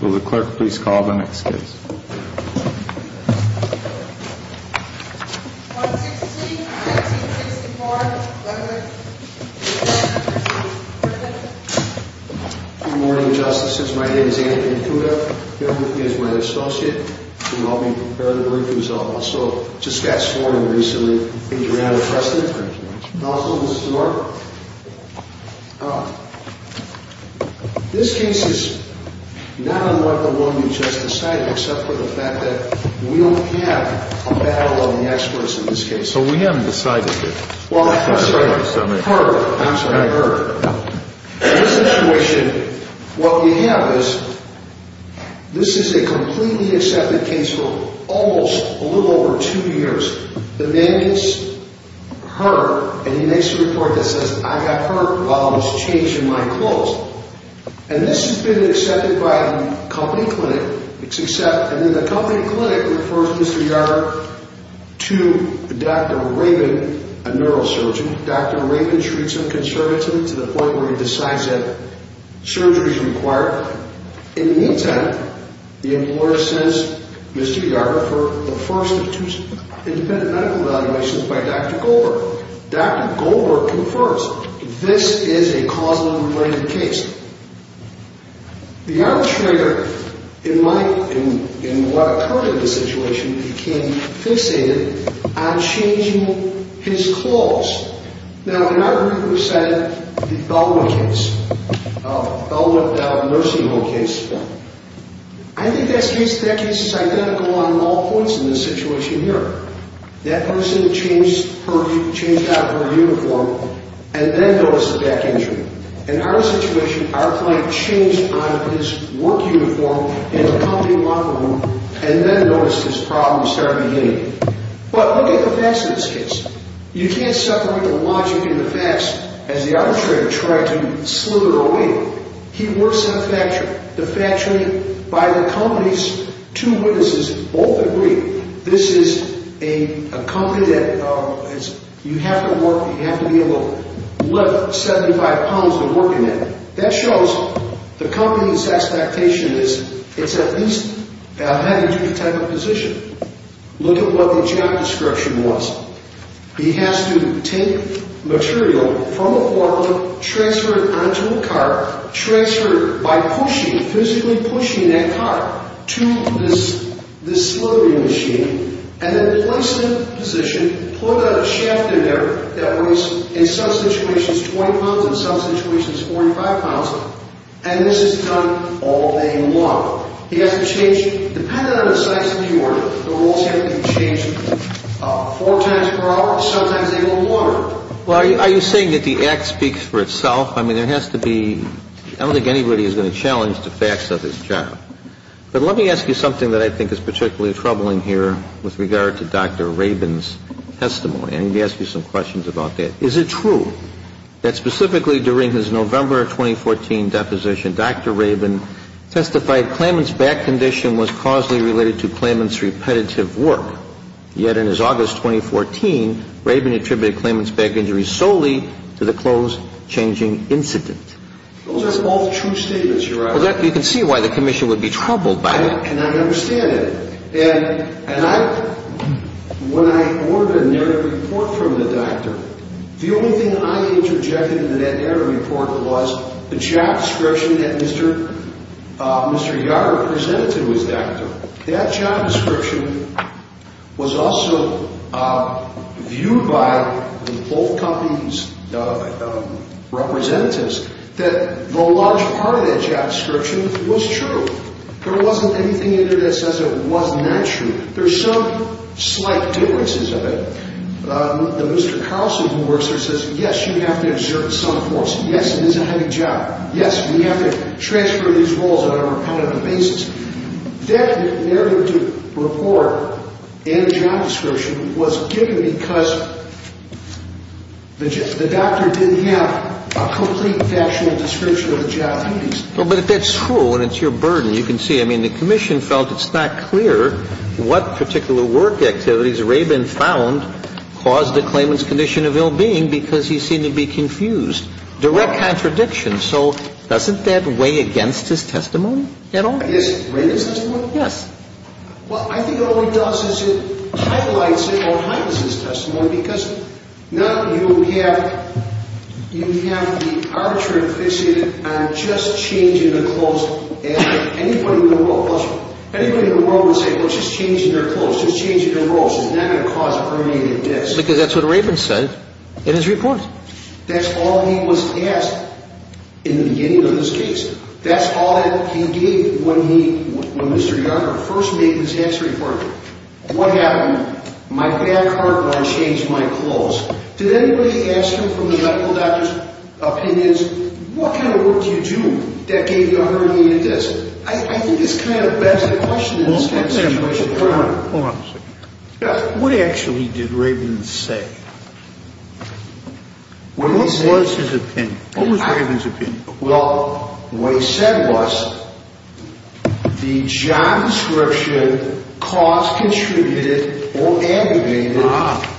Will the clerk please call the next case. 116-1964, Lexington. Good morning, Justices. My name is Anthony Kuga. Phil is my associate in helping prepare the briefings. I also just got sworn in recently. Thank you for having us. Thank you. Also, this is Mark. This case is not unlike the one you just decided, except for the fact that we don't have a battle of the experts in this case. So we haven't decided yet. Well, I'm sorry, her. I'm sorry, her. In this situation, what we have is, this is a completely accepted case for almost a little over two years. The man gets hurt, and he makes a report that says, I got hurt while I was changing my clothes. And this has been accepted by the company clinic. And then the company clinic refers Mr. Yarger to Dr. Rabin, a neurosurgeon. Dr. Rabin treats him conservatively to the point where he decides that surgery is required. In the meantime, the employer sends Mr. Yarger for the first of two independent medical evaluations by Dr. Goldberg. Dr. Goldberg confirms, this is a causally related case. The arbitrator, in what occurred in the situation, became fixated on changing his clothes. Now, in our group, we said the Bellwood case, Bellwood-Bellwood-Nursing Home case. I think that case is identical on all points in this situation here. That person changed out of her uniform, and then noticed a back injury. In our situation, our client changed out of his work uniform in the company locker room, and then noticed his problems started again. But look at the facts in this case. You can't separate the logic and the facts as the arbitrator tried to slither away. He works in a factory. The factory, by the company's two witnesses, both agree, this is a company that you have to work, you have to be able to lift 75 pounds of work in it. That shows the company's expectation is, it's at least a heavy duty type of position. Look at what the job description was. He has to take material from a quarry, transfer it onto a cart, transfer it by pushing, physically pushing that cart to this slithering machine, and then place it in position, put a shaft in there that weighs, in some situations, 20 pounds, in some situations, 45 pounds. And this is done all day long. He has to change, depending on the size of the order, the roles have to be changed four times per hour, sometimes a little more. Well, are you saying that the act speaks for itself? I mean, there has to be, I don't think anybody is going to challenge the facts of his job. But let me ask you something that I think is particularly troubling here with regard to Dr. Rabin's testimony. I'm going to ask you some questions about that. Is it true that specifically during his November of 2014 deposition, Dr. Rabin testified Claimant's back condition was causally related to Claimant's repetitive work, yet in his August 2014, Rabin attributed Claimant's back injury solely to the clothes changing incident? Those are all true statements, Your Honor. Well, you can see why the commission would be troubled by it. And I understand it. And when I ordered a narrative report from the doctor, the only thing I interjected in that narrative report was the job description that Mr. Yarg represented to his doctor. That job description was also viewed by both companies' representatives that a large part of that job description was true. There wasn't anything in there that says it was not true. There are some slight differences of it. The Mr. Carlson who works there says, yes, you have to exert some force. Yes, it is a heavy job. Yes, we have to transfer these roles on a repetitive basis. That narrative report and the job description was given because the doctor didn't have a complete factual description of the job. And it's so obvious that work activities have nothing to do with the findings. Well, but if that's true and it's your burden, you can see, I mean, the commission felt it's not clear what particular work activities Rabin found caused the Claimant's condition of ill-being because he seemed to be confused. Direct contradiction. So doesn't that weigh against his testimony at all? Yes. Rabin's testimony? Yes. Well, I think all it does is it highlights or heightens his testimony because now you have the arbitrator fixated on just changing the clothes. Anybody in the world would say, well, just changing their clothes, just changing their clothes is not going to cause permanent deaths. Because that's what Rabin said in his report. That's all he was asked in the beginning of this case. That's all that he gave when he, when Mr. Yarger first made his answer in court. What happened? My back hurt when I changed my clothes. Did anybody ask him from the medical doctor's opinions, what kind of work do you do that gave you a herniated disc? I think it's kind of a bad question in this kind of situation. Hold on a second. Yes. What actually did Rabin say? What was his opinion? What was Rabin's opinion? Well, what he said was the job description cost contributed or aggravated.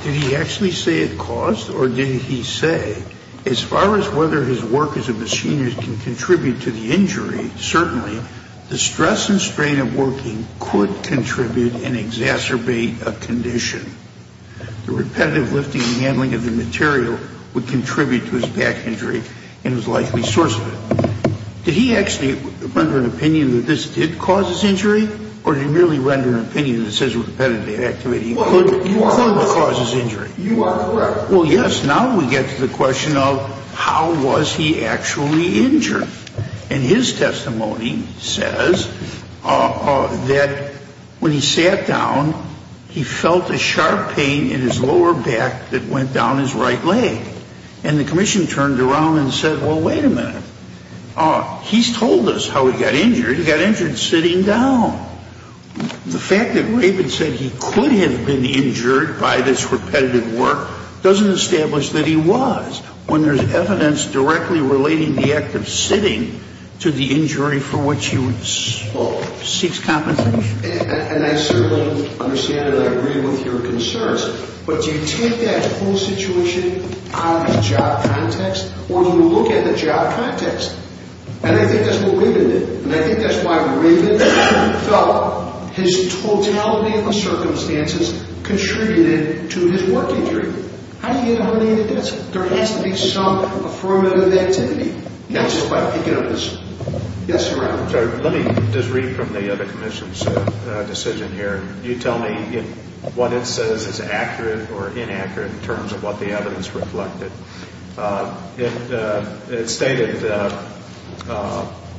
Did he actually say it cost or did he say, as far as whether his work as a machinist can contribute to the injury, certainly the stress and strain of working could contribute and exacerbate a condition. The repetitive lifting and handling of the material would contribute to his back injury and was likely the source of it. Did he actually render an opinion that this did cause his injury or did he merely render an opinion that says repetitive activity could cause his injury? You are correct. Well, yes. Now we get to the question of how was he actually injured? And his testimony says that when he sat down, he felt a sharp pain in his lower back that went down his right leg. And the commission turned around and said, well, wait a minute. He's told us how he got injured. He got injured sitting down. The fact that Rabin said he could have been injured by this repetitive work doesn't establish that he was. When there's evidence directly relating the act of sitting to the injury for which he seeks compensation. And I certainly understand and I agree with your concerns. But do you take that whole situation out of the job context or do you look at the job context? And I think that's what Rabin did. And I think that's why Rabin felt his totality of circumstances contributed to his work injury. How do you get away with this? There has to be some affirmative activity. That's what I'm thinking of this. Yes, Your Honor. Let me just read from the other commission's decision here. You tell me what it says is accurate or inaccurate in terms of what the evidence reflected. It stated that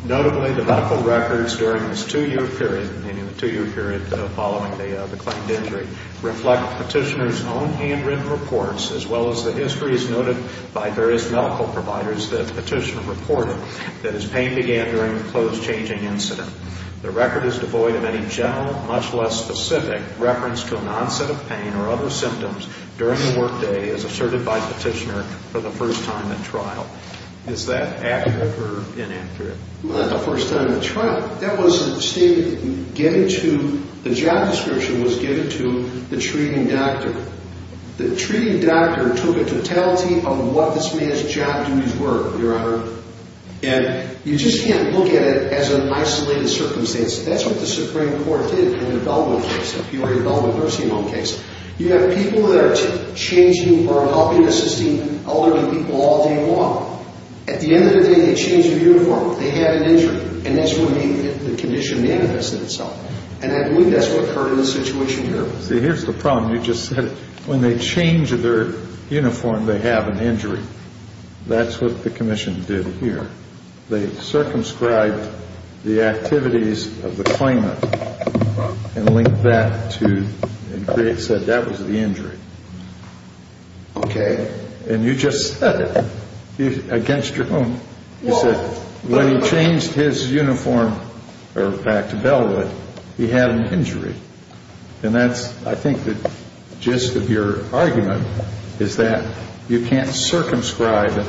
notably the medical records during this two-year period, meaning the two-year period following the claimed injury, reflect Petitioner's own handwritten reports as well as the histories noted by various medical providers that Petitioner reported that his pain began during the close changing incident. The record is devoid of any general, much less specific, reference to an onset of pain or other symptoms during the work day as asserted by Petitioner for the first time at trial. Is that accurate or inaccurate? Not the first time at trial. That was a statement given to, the job description was given to the treating doctor. The treating doctor took a totality of what this man's job duties were, Your Honor. And you just can't look at it as an isolated circumstance. That's what the Supreme Court did in the Bellman case, the Peoria Bellman nursing home case. You have people that are changing or helping assisting elderly people all day long. At the end of the day, they changed their uniform. They had an injury. And that's when the condition manifests itself. And I believe that's what occurred in the situation here. See, here's the problem. You just said when they change their uniform, they have an injury. That's what the commission did here. They circumscribed the activities of the claimant and linked that to, and said that was the injury. Okay. And you just said it against your own. You said when he changed his uniform back to Bellwood, he had an injury. And that's, I think, the gist of your argument is that you can't circumscribe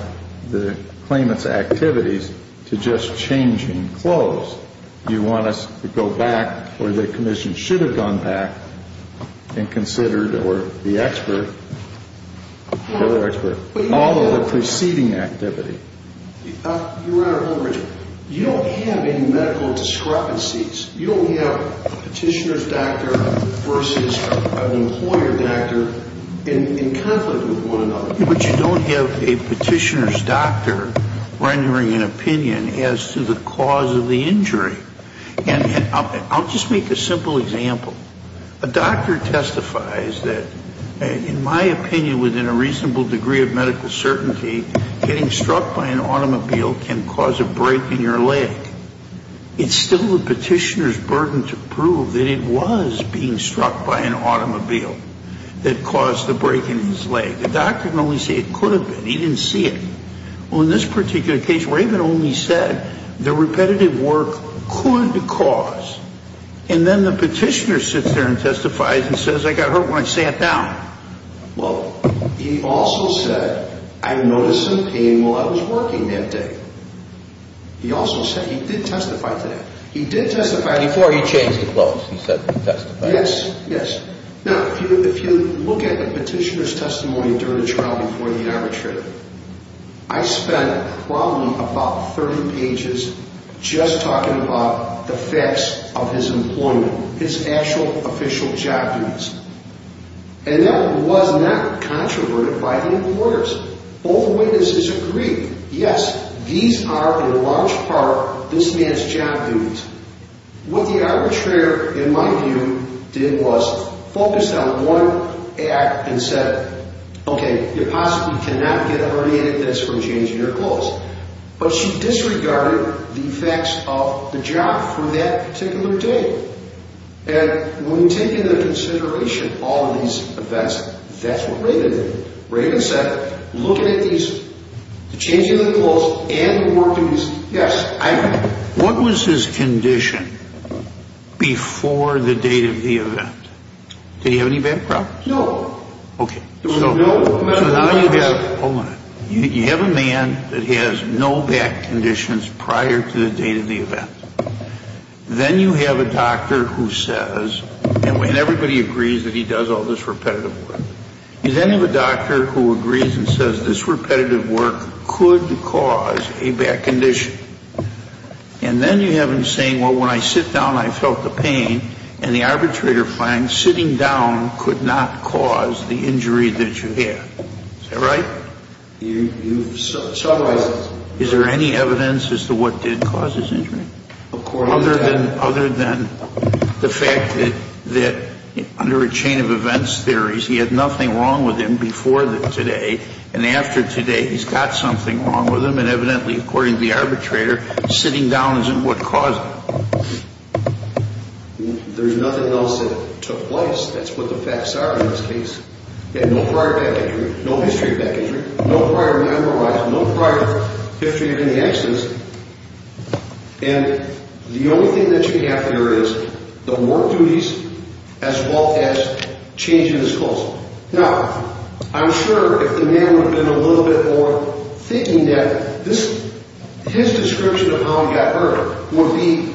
the claimant's activities to just changing clothes. You want us to go back where the commission should have gone back and considered or the expert, or the expert, all of the preceding activity. Your Honor, you don't have any medical discrepancies. You don't have a petitioner's doctor versus an employer doctor in conflict with one another. But you don't have a petitioner's doctor rendering an opinion as to the cause of the injury. And I'll just make a simple example. A doctor testifies that, in my opinion, within a reasonable degree of medical certainty, getting struck by an automobile can cause a break in your leg. It's still the petitioner's burden to prove that it was being struck by an automobile that caused the break in his leg. The doctor can only say it could have been. He didn't see it. Well, in this particular case, Raven only said the repetitive work could cause. And then the petitioner sits there and testifies and says, I got hurt when I sat down. Well, he also said, I noticed some pain while I was working that day. He also said he did testify to that. He did testify to that. Before he changed his clothes, he said he testified. Yes, yes. Now, if you look at the petitioner's testimony during the trial before the arbitrator, I spent probably about 30 pages just talking about the facts of his employment, his actual official job duties. And that was not controverted by the importers. Both witnesses agreed, yes, these are, in large part, this man's job duties. What the arbitrator, in my view, did was focus on one act and said, okay, you possibly cannot get a herniated disc from changing your clothes. But she disregarded the effects of the job for that particular day. And when you take into consideration all of these events, that's what Raven did. Raven said, looking at these, the changing of the clothes and the work of these, yes, I agree. What was his condition before the date of the event? Did he have any back problems? No. Okay. There was no back problems. Hold on. You have a man that has no back conditions prior to the date of the event. Then you have a doctor who says, and everybody agrees that he does all this repetitive work. You then have a doctor who agrees and says this repetitive work could cause a back condition. And then you have him saying, well, when I sit down, I felt the pain. And the arbitrator finds sitting down could not cause the injury that you have. Is that right? You've summarized it. Is there any evidence as to what did cause his injury? Of course. Other than the fact that under a chain of events theories, he had nothing wrong with him before today. And after today, he's got something wrong with him. And evidently, according to the arbitrator, sitting down isn't what caused it. There's nothing else that took place. That's what the facts are in this case. He had no prior back injury, no history of back injury, no prior memorizing, no prior history of any accidents. And the only thing that you have here is the work duties as well as changing his clothes. Now, I'm sure if the man would have been a little bit more thinking that his description of how he got hurt would be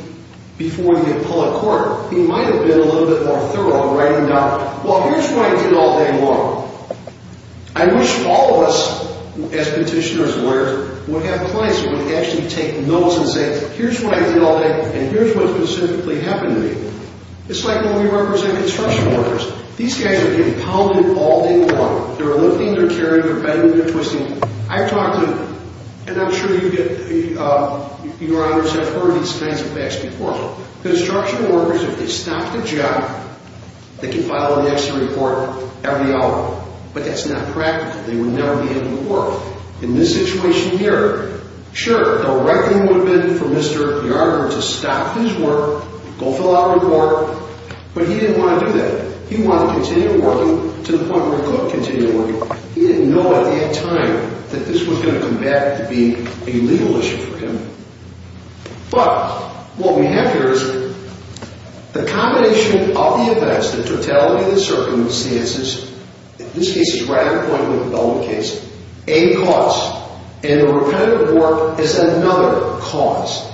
before he had pulled out of court, he might have been a little bit more thorough in writing it down. Well, here's what I did all day long. I wish all of us, as petitioners and lawyers, would have clients who would actually take notes and say, here's what I did all day and here's what specifically happened to me. It's like when we represent construction workers. These guys are getting pounded all day long. They're lifting, they're carrying, they're bending, they're twisting. I've talked to them, and I'm sure you get, your honors have heard these kinds of facts before. Construction workers, if they stop the job, they can file an extra report every hour, but that's not practical. They would never be able to work. In this situation here, sure, the right thing would have been for Mr. Yarger to stop his work, go fill out a report, but he didn't want to do that. He wanted to continue working to the point where he couldn't continue working. He didn't know at that time that this was going to come back to be a legal issue for him. But what we have here is the combination of the events, the totality of the circumstances, this case is right on point with the Bellman case, a cause, and a repetitive work is another cause.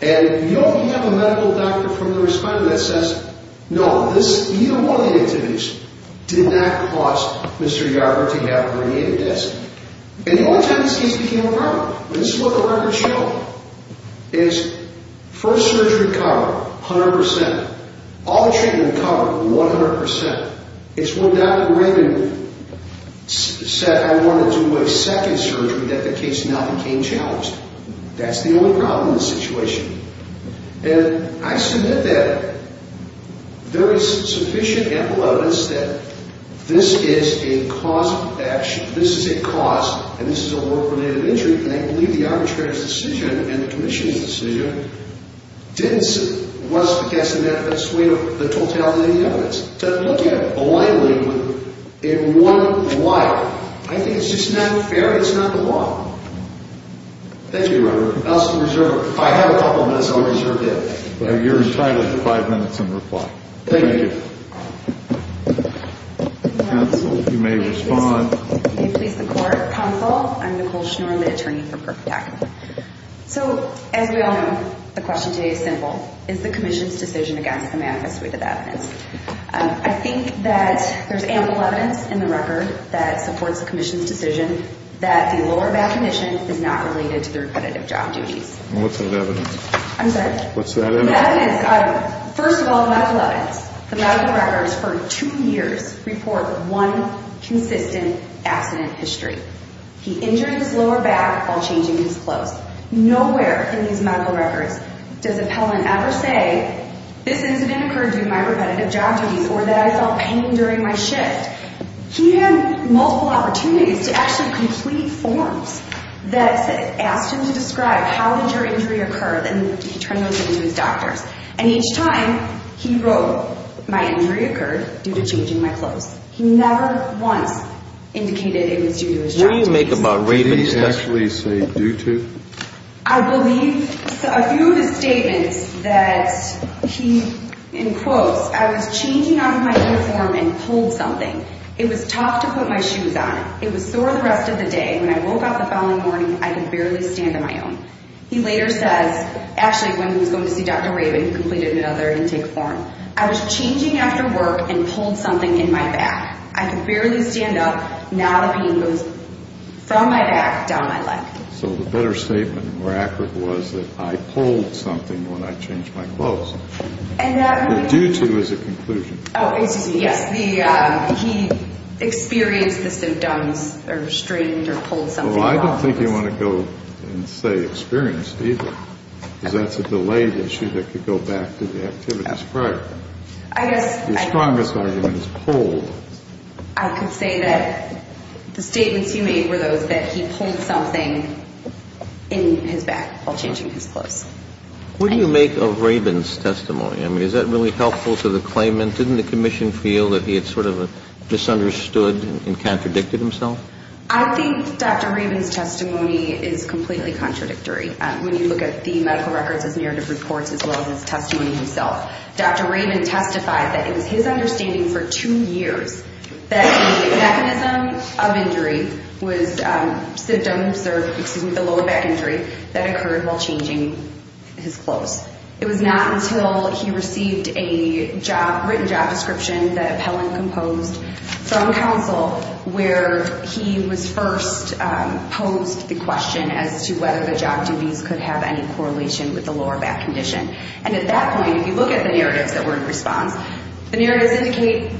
And you don't have a medical doctor from the respondent that says, no, this, either one of the activities did not cause Mr. Yarger to have a radiated disc. And the only time this case became a problem, and this is what the records show, is first surgery cover, 100 percent. All the treatment cover, 100 percent. It's when Dr. Graydon said, I want to do a second surgery, that the case not became challenged. That's the only problem in this situation. And I submit that there is sufficient evidence that this is a cause of action. This is a cause, and this is a work-related injury, and I believe the arbitrator's decision and the commission's decision was to cast a net of sway over the totality of the evidence. But looking at it blindly in one wire, I think it's just not fair. It's not the law. Thank you, Your Honor. If I have a couple minutes, I'll reserve them. You're entitled to five minutes in reply. Thank you. Counsel, you may respond. May it please the Court. Counsel, I'm Nicole Schnoor, the attorney for Kirkpatrick. So, as we all know, the question today is simple. Is the commission's decision against the manifest way that that is? I think that there's ample evidence in the record that supports the commission's decision that the lower back condition is not related to the repetitive job duties. What's that evidence? I'm sorry? What's that evidence? First of all, the medical evidence. The medical records for two years report one consistent accident history. He injured his lower back while changing his clothes. Nowhere in these medical records does Appellant ever say, this incident occurred due to my repetitive job duties or that I felt pain during my shift. He had multiple opportunities to actually complete forms that asked him to describe how did your injury occur and turn those into his doctor's. And each time, he wrote, my injury occurred due to changing my clothes. He never once indicated it was due to his job duties. What do you make of my reading? Did he actually say due to? I believe a few of his statements that he, in quotes, I was changing out of my uniform and pulled something. It was tough to put my shoes on. It was sore the rest of the day. When I woke up the following morning, I could barely stand on my own. He later says, actually, when he was going to see Dr. Rabin, who completed another intake form, I was changing after work and pulled something in my back. I could barely stand up. Now the pain goes from my back down my leg. So the better statement and more accurate was that I pulled something when I changed my clothes. And that may be. But due to is a conclusion. Oh, excuse me. Yes. He experienced the symptoms or strained or pulled something. Well, I don't think you want to go and say experienced either because that's a delayed issue that could go back to the activities prior. I guess. Your strongest argument is pulled. I could say that the statements you made were those that he pulled something in his back while changing his clothes. What do you make of Rabin's testimony? I mean, is that really helpful to the claimant? Didn't the commission feel that he had sort of misunderstood and contradicted himself? I think Dr. Rabin's testimony is completely contradictory. When you look at the medical records, his narrative reports, as well as his testimony himself, Dr. Rabin testified that it was his understanding for two years that the mechanism of injury was symptoms or, excuse me, the lower back injury that occurred while changing his clothes. It was not until he received a written job description that appellant composed from counsel where he was first posed the question as to whether the job duties could have any correlation with the lower back condition. And at that point, if you look at the narratives that were in response, the narratives indicate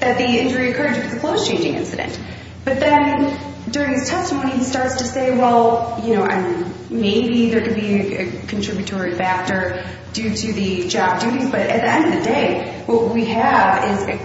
that the injury occurred due to the clothes changing incident. But then during his testimony, he starts to say, well, you know, maybe there could be a contributory factor due to the job duties. But at the end of the day, what we have is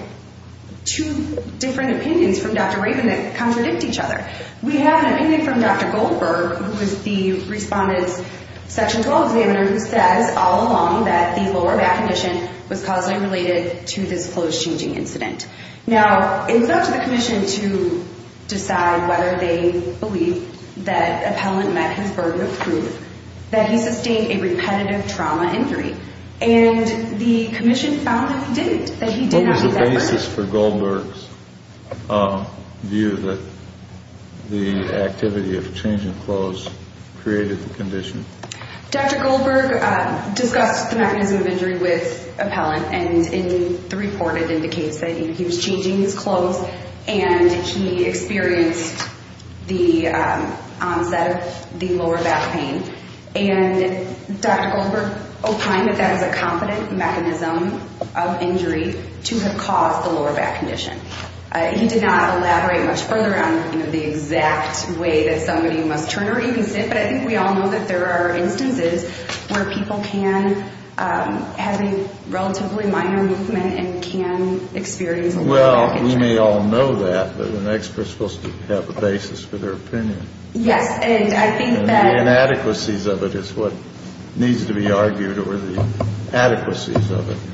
two different opinions from Dr. Rabin that contradict each other. We have an opinion from Dr. Goldberg, who is the respondent's section 12 examiner, who says all along that the lower back condition was causally related to this clothes changing incident. Now, it was up to the commission to decide whether they believed that appellant met his burden of proof that he sustained a repetitive trauma injury. And the commission found that he didn't, that he did not meet that burden. What was the basis for Goldberg's view that the activity of changing clothes created the condition? Dr. Goldberg discussed the mechanism of injury with appellant. And in the report, it indicates that he was changing his clothes and he experienced the onset of the lower back pain. And Dr. Goldberg opined that that was a competent mechanism of injury to have caused the lower back condition. He did not elaborate much further on, you know, the exact way that somebody must turn or even sit, but I think we all know that there are instances where people can have a relatively minor movement and can experience a lower back injury. Well, we may all know that, but an expert is supposed to have a basis for their opinion. Yes, and I think that... The inadequacies of it is what needs to be argued or the adequacies of it.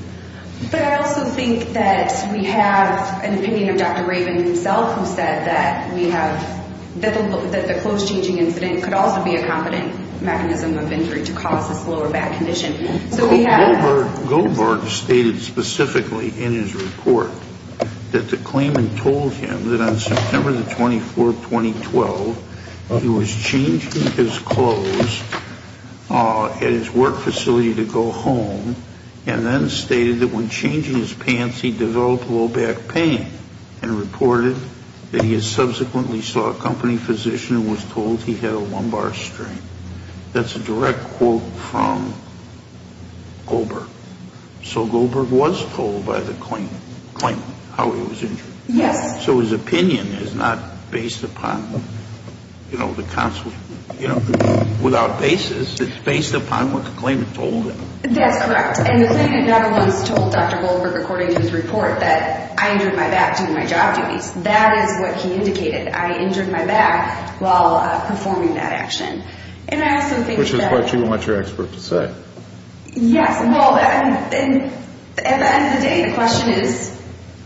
But I also think that we have an opinion of Dr. Raven himself who said that we have, that the clothes changing incident could also be a competent mechanism of injury to cause this lower back condition. So we have... that the claimant told him that on September the 24th, 2012, he was changing his clothes at his work facility to go home and then stated that when changing his pants, he developed lower back pain and reported that he subsequently saw a company physician and was told he had a lumbar strain. That's a direct quote from Goldberg. So Goldberg was told by the claimant how he was injured. Yes. So his opinion is not based upon, you know, the counsel, you know, without basis. It's based upon what the claimant told him. That's correct. And the claimant never was told, Dr. Goldberg, according to his report, that I injured my back doing my job duties. That is what he indicated. I injured my back while performing that action. And I also think that... Which is what you want your expert to say. Yes. Well, at the end of the day, the question is,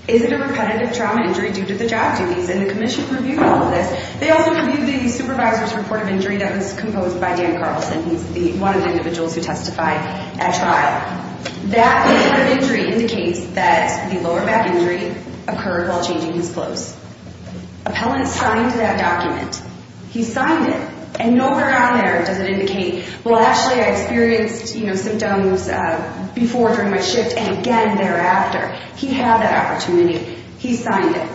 is it a repetitive trauma injury due to the job duties? And the commission reviewed all of this. They also reviewed the supervisor's report of injury that was composed by Dan Carlson. He's one of the individuals who testified at trial. That report of injury indicates that the lower back injury occurred while changing his clothes. Appellant signed that document. He signed it. And nowhere on there does it indicate, well, actually, I experienced, you know, symptoms before during my shift and again thereafter. He had that opportunity. He signed it.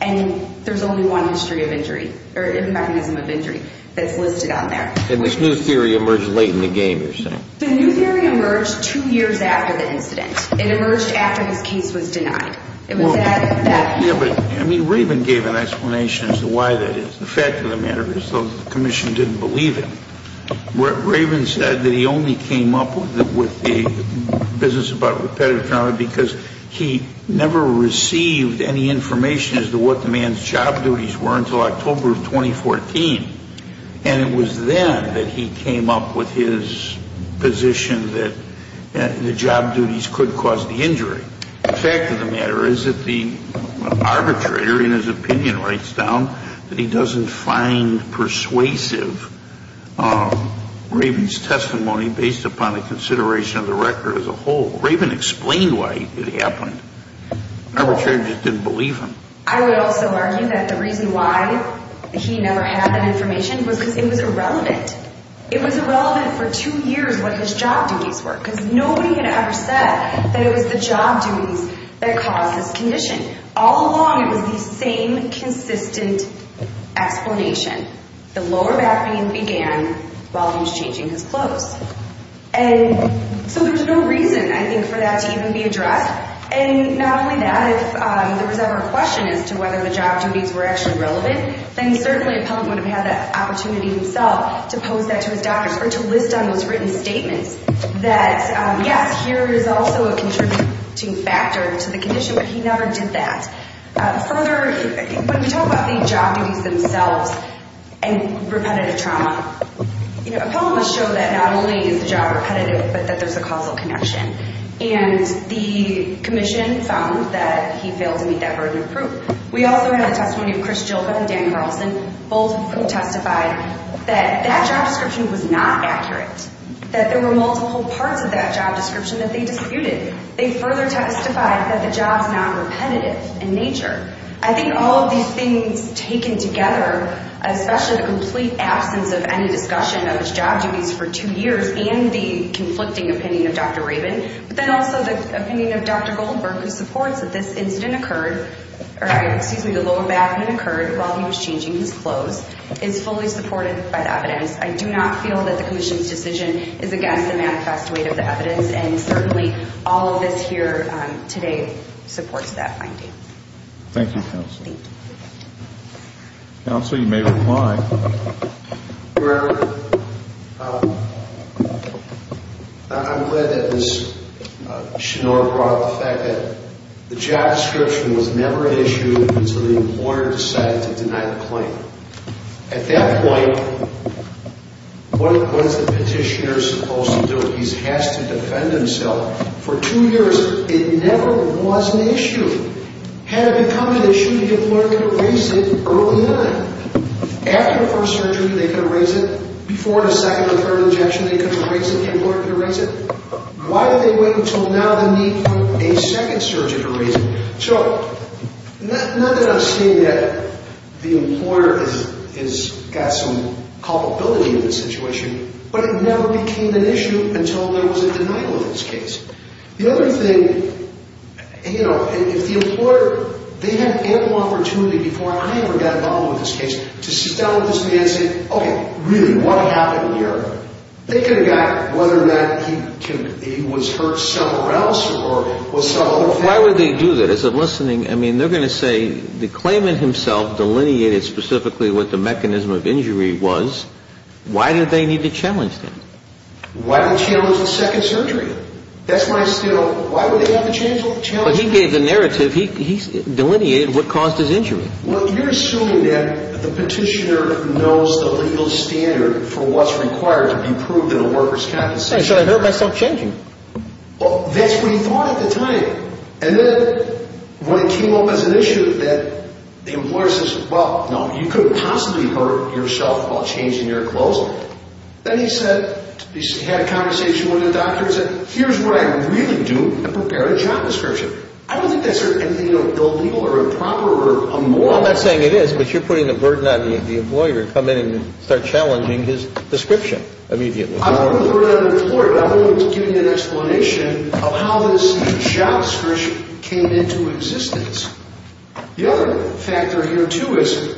And there's only one history of injury or mechanism of injury that's listed on there. And this new theory emerged late in the game, you're saying? The new theory emerged two years after the incident. It emerged after his case was denied. It was at that point. Yeah, but, I mean, Raven gave an explanation as to why that is. The fact of the matter is, though, the commission didn't believe him. Raven said that he only came up with the business about repetitive trauma because he never received any information as to what the man's job duties were until October of 2014. And it was then that he came up with his position that the job duties could cause the injury. The fact of the matter is that the arbitrator, in his opinion, writes down that he doesn't find persuasive Raven's testimony based upon the consideration of the record as a whole. Raven explained why it happened. The arbitrator just didn't believe him. I would also argue that the reason why he never had that information was because it was irrelevant. It was irrelevant for two years what his job duties were because nobody had ever said that it was the job duties that caused this condition. All along, it was the same consistent explanation. The lower back pain began while he was changing his clothes. And so there's no reason, I think, for that to even be addressed. And not only that, if there was ever a question as to whether the job duties were actually relevant, then certainly Appellant would have had the opportunity himself to pose that to his doctors or to list on those written statements that, yes, here is also a contributing factor to the condition, but he never did that. Further, when we talk about the job duties themselves and repetitive trauma, Appellant would show that not only is the job repetitive, but that there's a causal connection. And the commission found that he failed to meet that burden of proof. We also had a testimony of Chris Gilbert and Dan Carlson, both who testified that that job description was not accurate, that there were multiple parts of that job description that they disputed. They further testified that the job's not repetitive in nature. I think all of these things taken together, especially the complete absence of any discussion of his job duties for two years and the conflicting opinion of Dr. Rabin, but then also the opinion of Dr. Goldberg, who supports that this incident occurred, or excuse me, the lower back incident occurred while he was changing his clothes, is fully supported by the evidence. I do not feel that the commission's decision is against the manifest weight of the evidence, and certainly all of this here today supports that finding. Thank you, Counsel. Thank you. Counsel, you may reply. Well, I'm glad that Ms. Schnoor brought up the fact that the job description was never issued until the employer decided to deny the claim. At that point, what's the petitioner supposed to do? He has to defend himself. For two years, it never was an issue. Had it become an issue, the employer could have raised it early on. After the first surgery, they could have raised it. Before the second or third injection, they could have raised it. The employer could have raised it. Why did they wait until now to meet a second surgeon to raise it? So not that I'm saying that the employer has got some culpability in this situation, but it never became an issue until there was a denial of this case. The other thing, you know, if the employer, they had ample opportunity before I ever got involved with this case to sit down with this man and say, okay, really, what happened here? They could have gotten it, whether or not he was hurt somewhere else or with some other family. Why would they do that? As I'm listening, I mean, they're going to say the claimant himself delineated specifically what the mechanism of injury was. Why did they need to challenge that? Why would they challenge a second surgery? But he gave the narrative. He delineated what caused his injury. Well, you're assuming that the petitioner knows the legal standard for what's required to be approved in a worker's compensation. Hey, so I hurt myself changing. Well, that's what he thought at the time. And then when it came up as an issue that the employer says, well, no, you couldn't possibly hurt yourself while changing your clothes. Then he said, he had a conversation with a doctor and said, here's what I really do, I prepare a job description. I don't think that's anything illegal or improper or immoral. Well, I'm not saying it is, but you're putting the burden on the employer to come in and start challenging his description immediately. I'm not putting the burden on the employer, but I'm going to give you an explanation of how this job description came into existence. The other factor here, too, is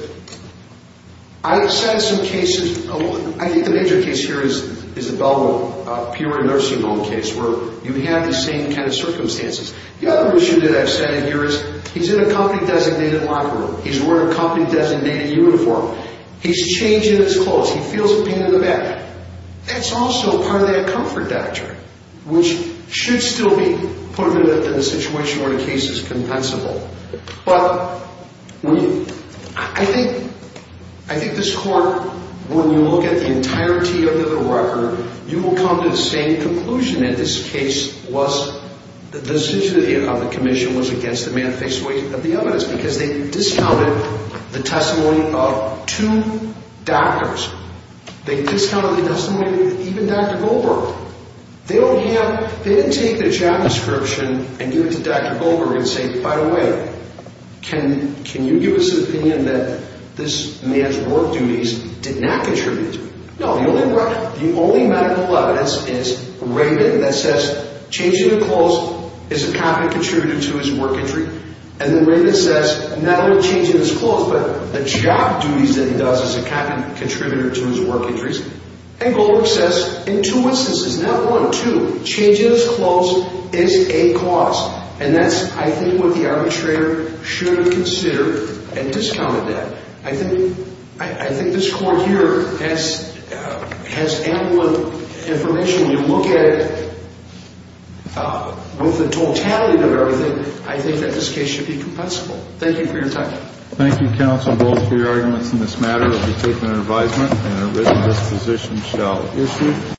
I've said some cases alone. I think the major case here is the Belmont Peer and Nursing Home case where you have the same kind of circumstances. The other issue that I've said here is he's in a company-designated locker room. He's wearing a company-designated uniform. He's changing his clothes. He feels the pain in the back. That's also part of that comfort doctrine, which should still be put into the situation where the case is compensable. But I think this court, when you look at the entirety of the record, you will come to the same conclusion. In this case, the decision of the commission was against the manification of the evidence because they discounted the testimony of two doctors. They discounted the testimony of even Dr. Goldberg. They didn't take the job description and give it to Dr. Goldberg and say, by the way, can you give us an opinion that this man's work duties did not contribute to it? No. The only medical evidence is Reagan that says changing of clothes is a competent contributor to his work injury. And then Reagan says not only changing his clothes, but the job duties that he does is a competent contributor to his work injuries. And Goldberg says in two instances, not one, two, changing his clothes is a cause. And that's, I think, what the arbitrator should consider and discounted that. I think this court here has ample information. When you look at it with the totality of everything, I think that this case should be compensable. Thank you for your time. Thank you, counsel, both for your arguments in this matter. We'll be taking an advisement and a written disposition shall issue.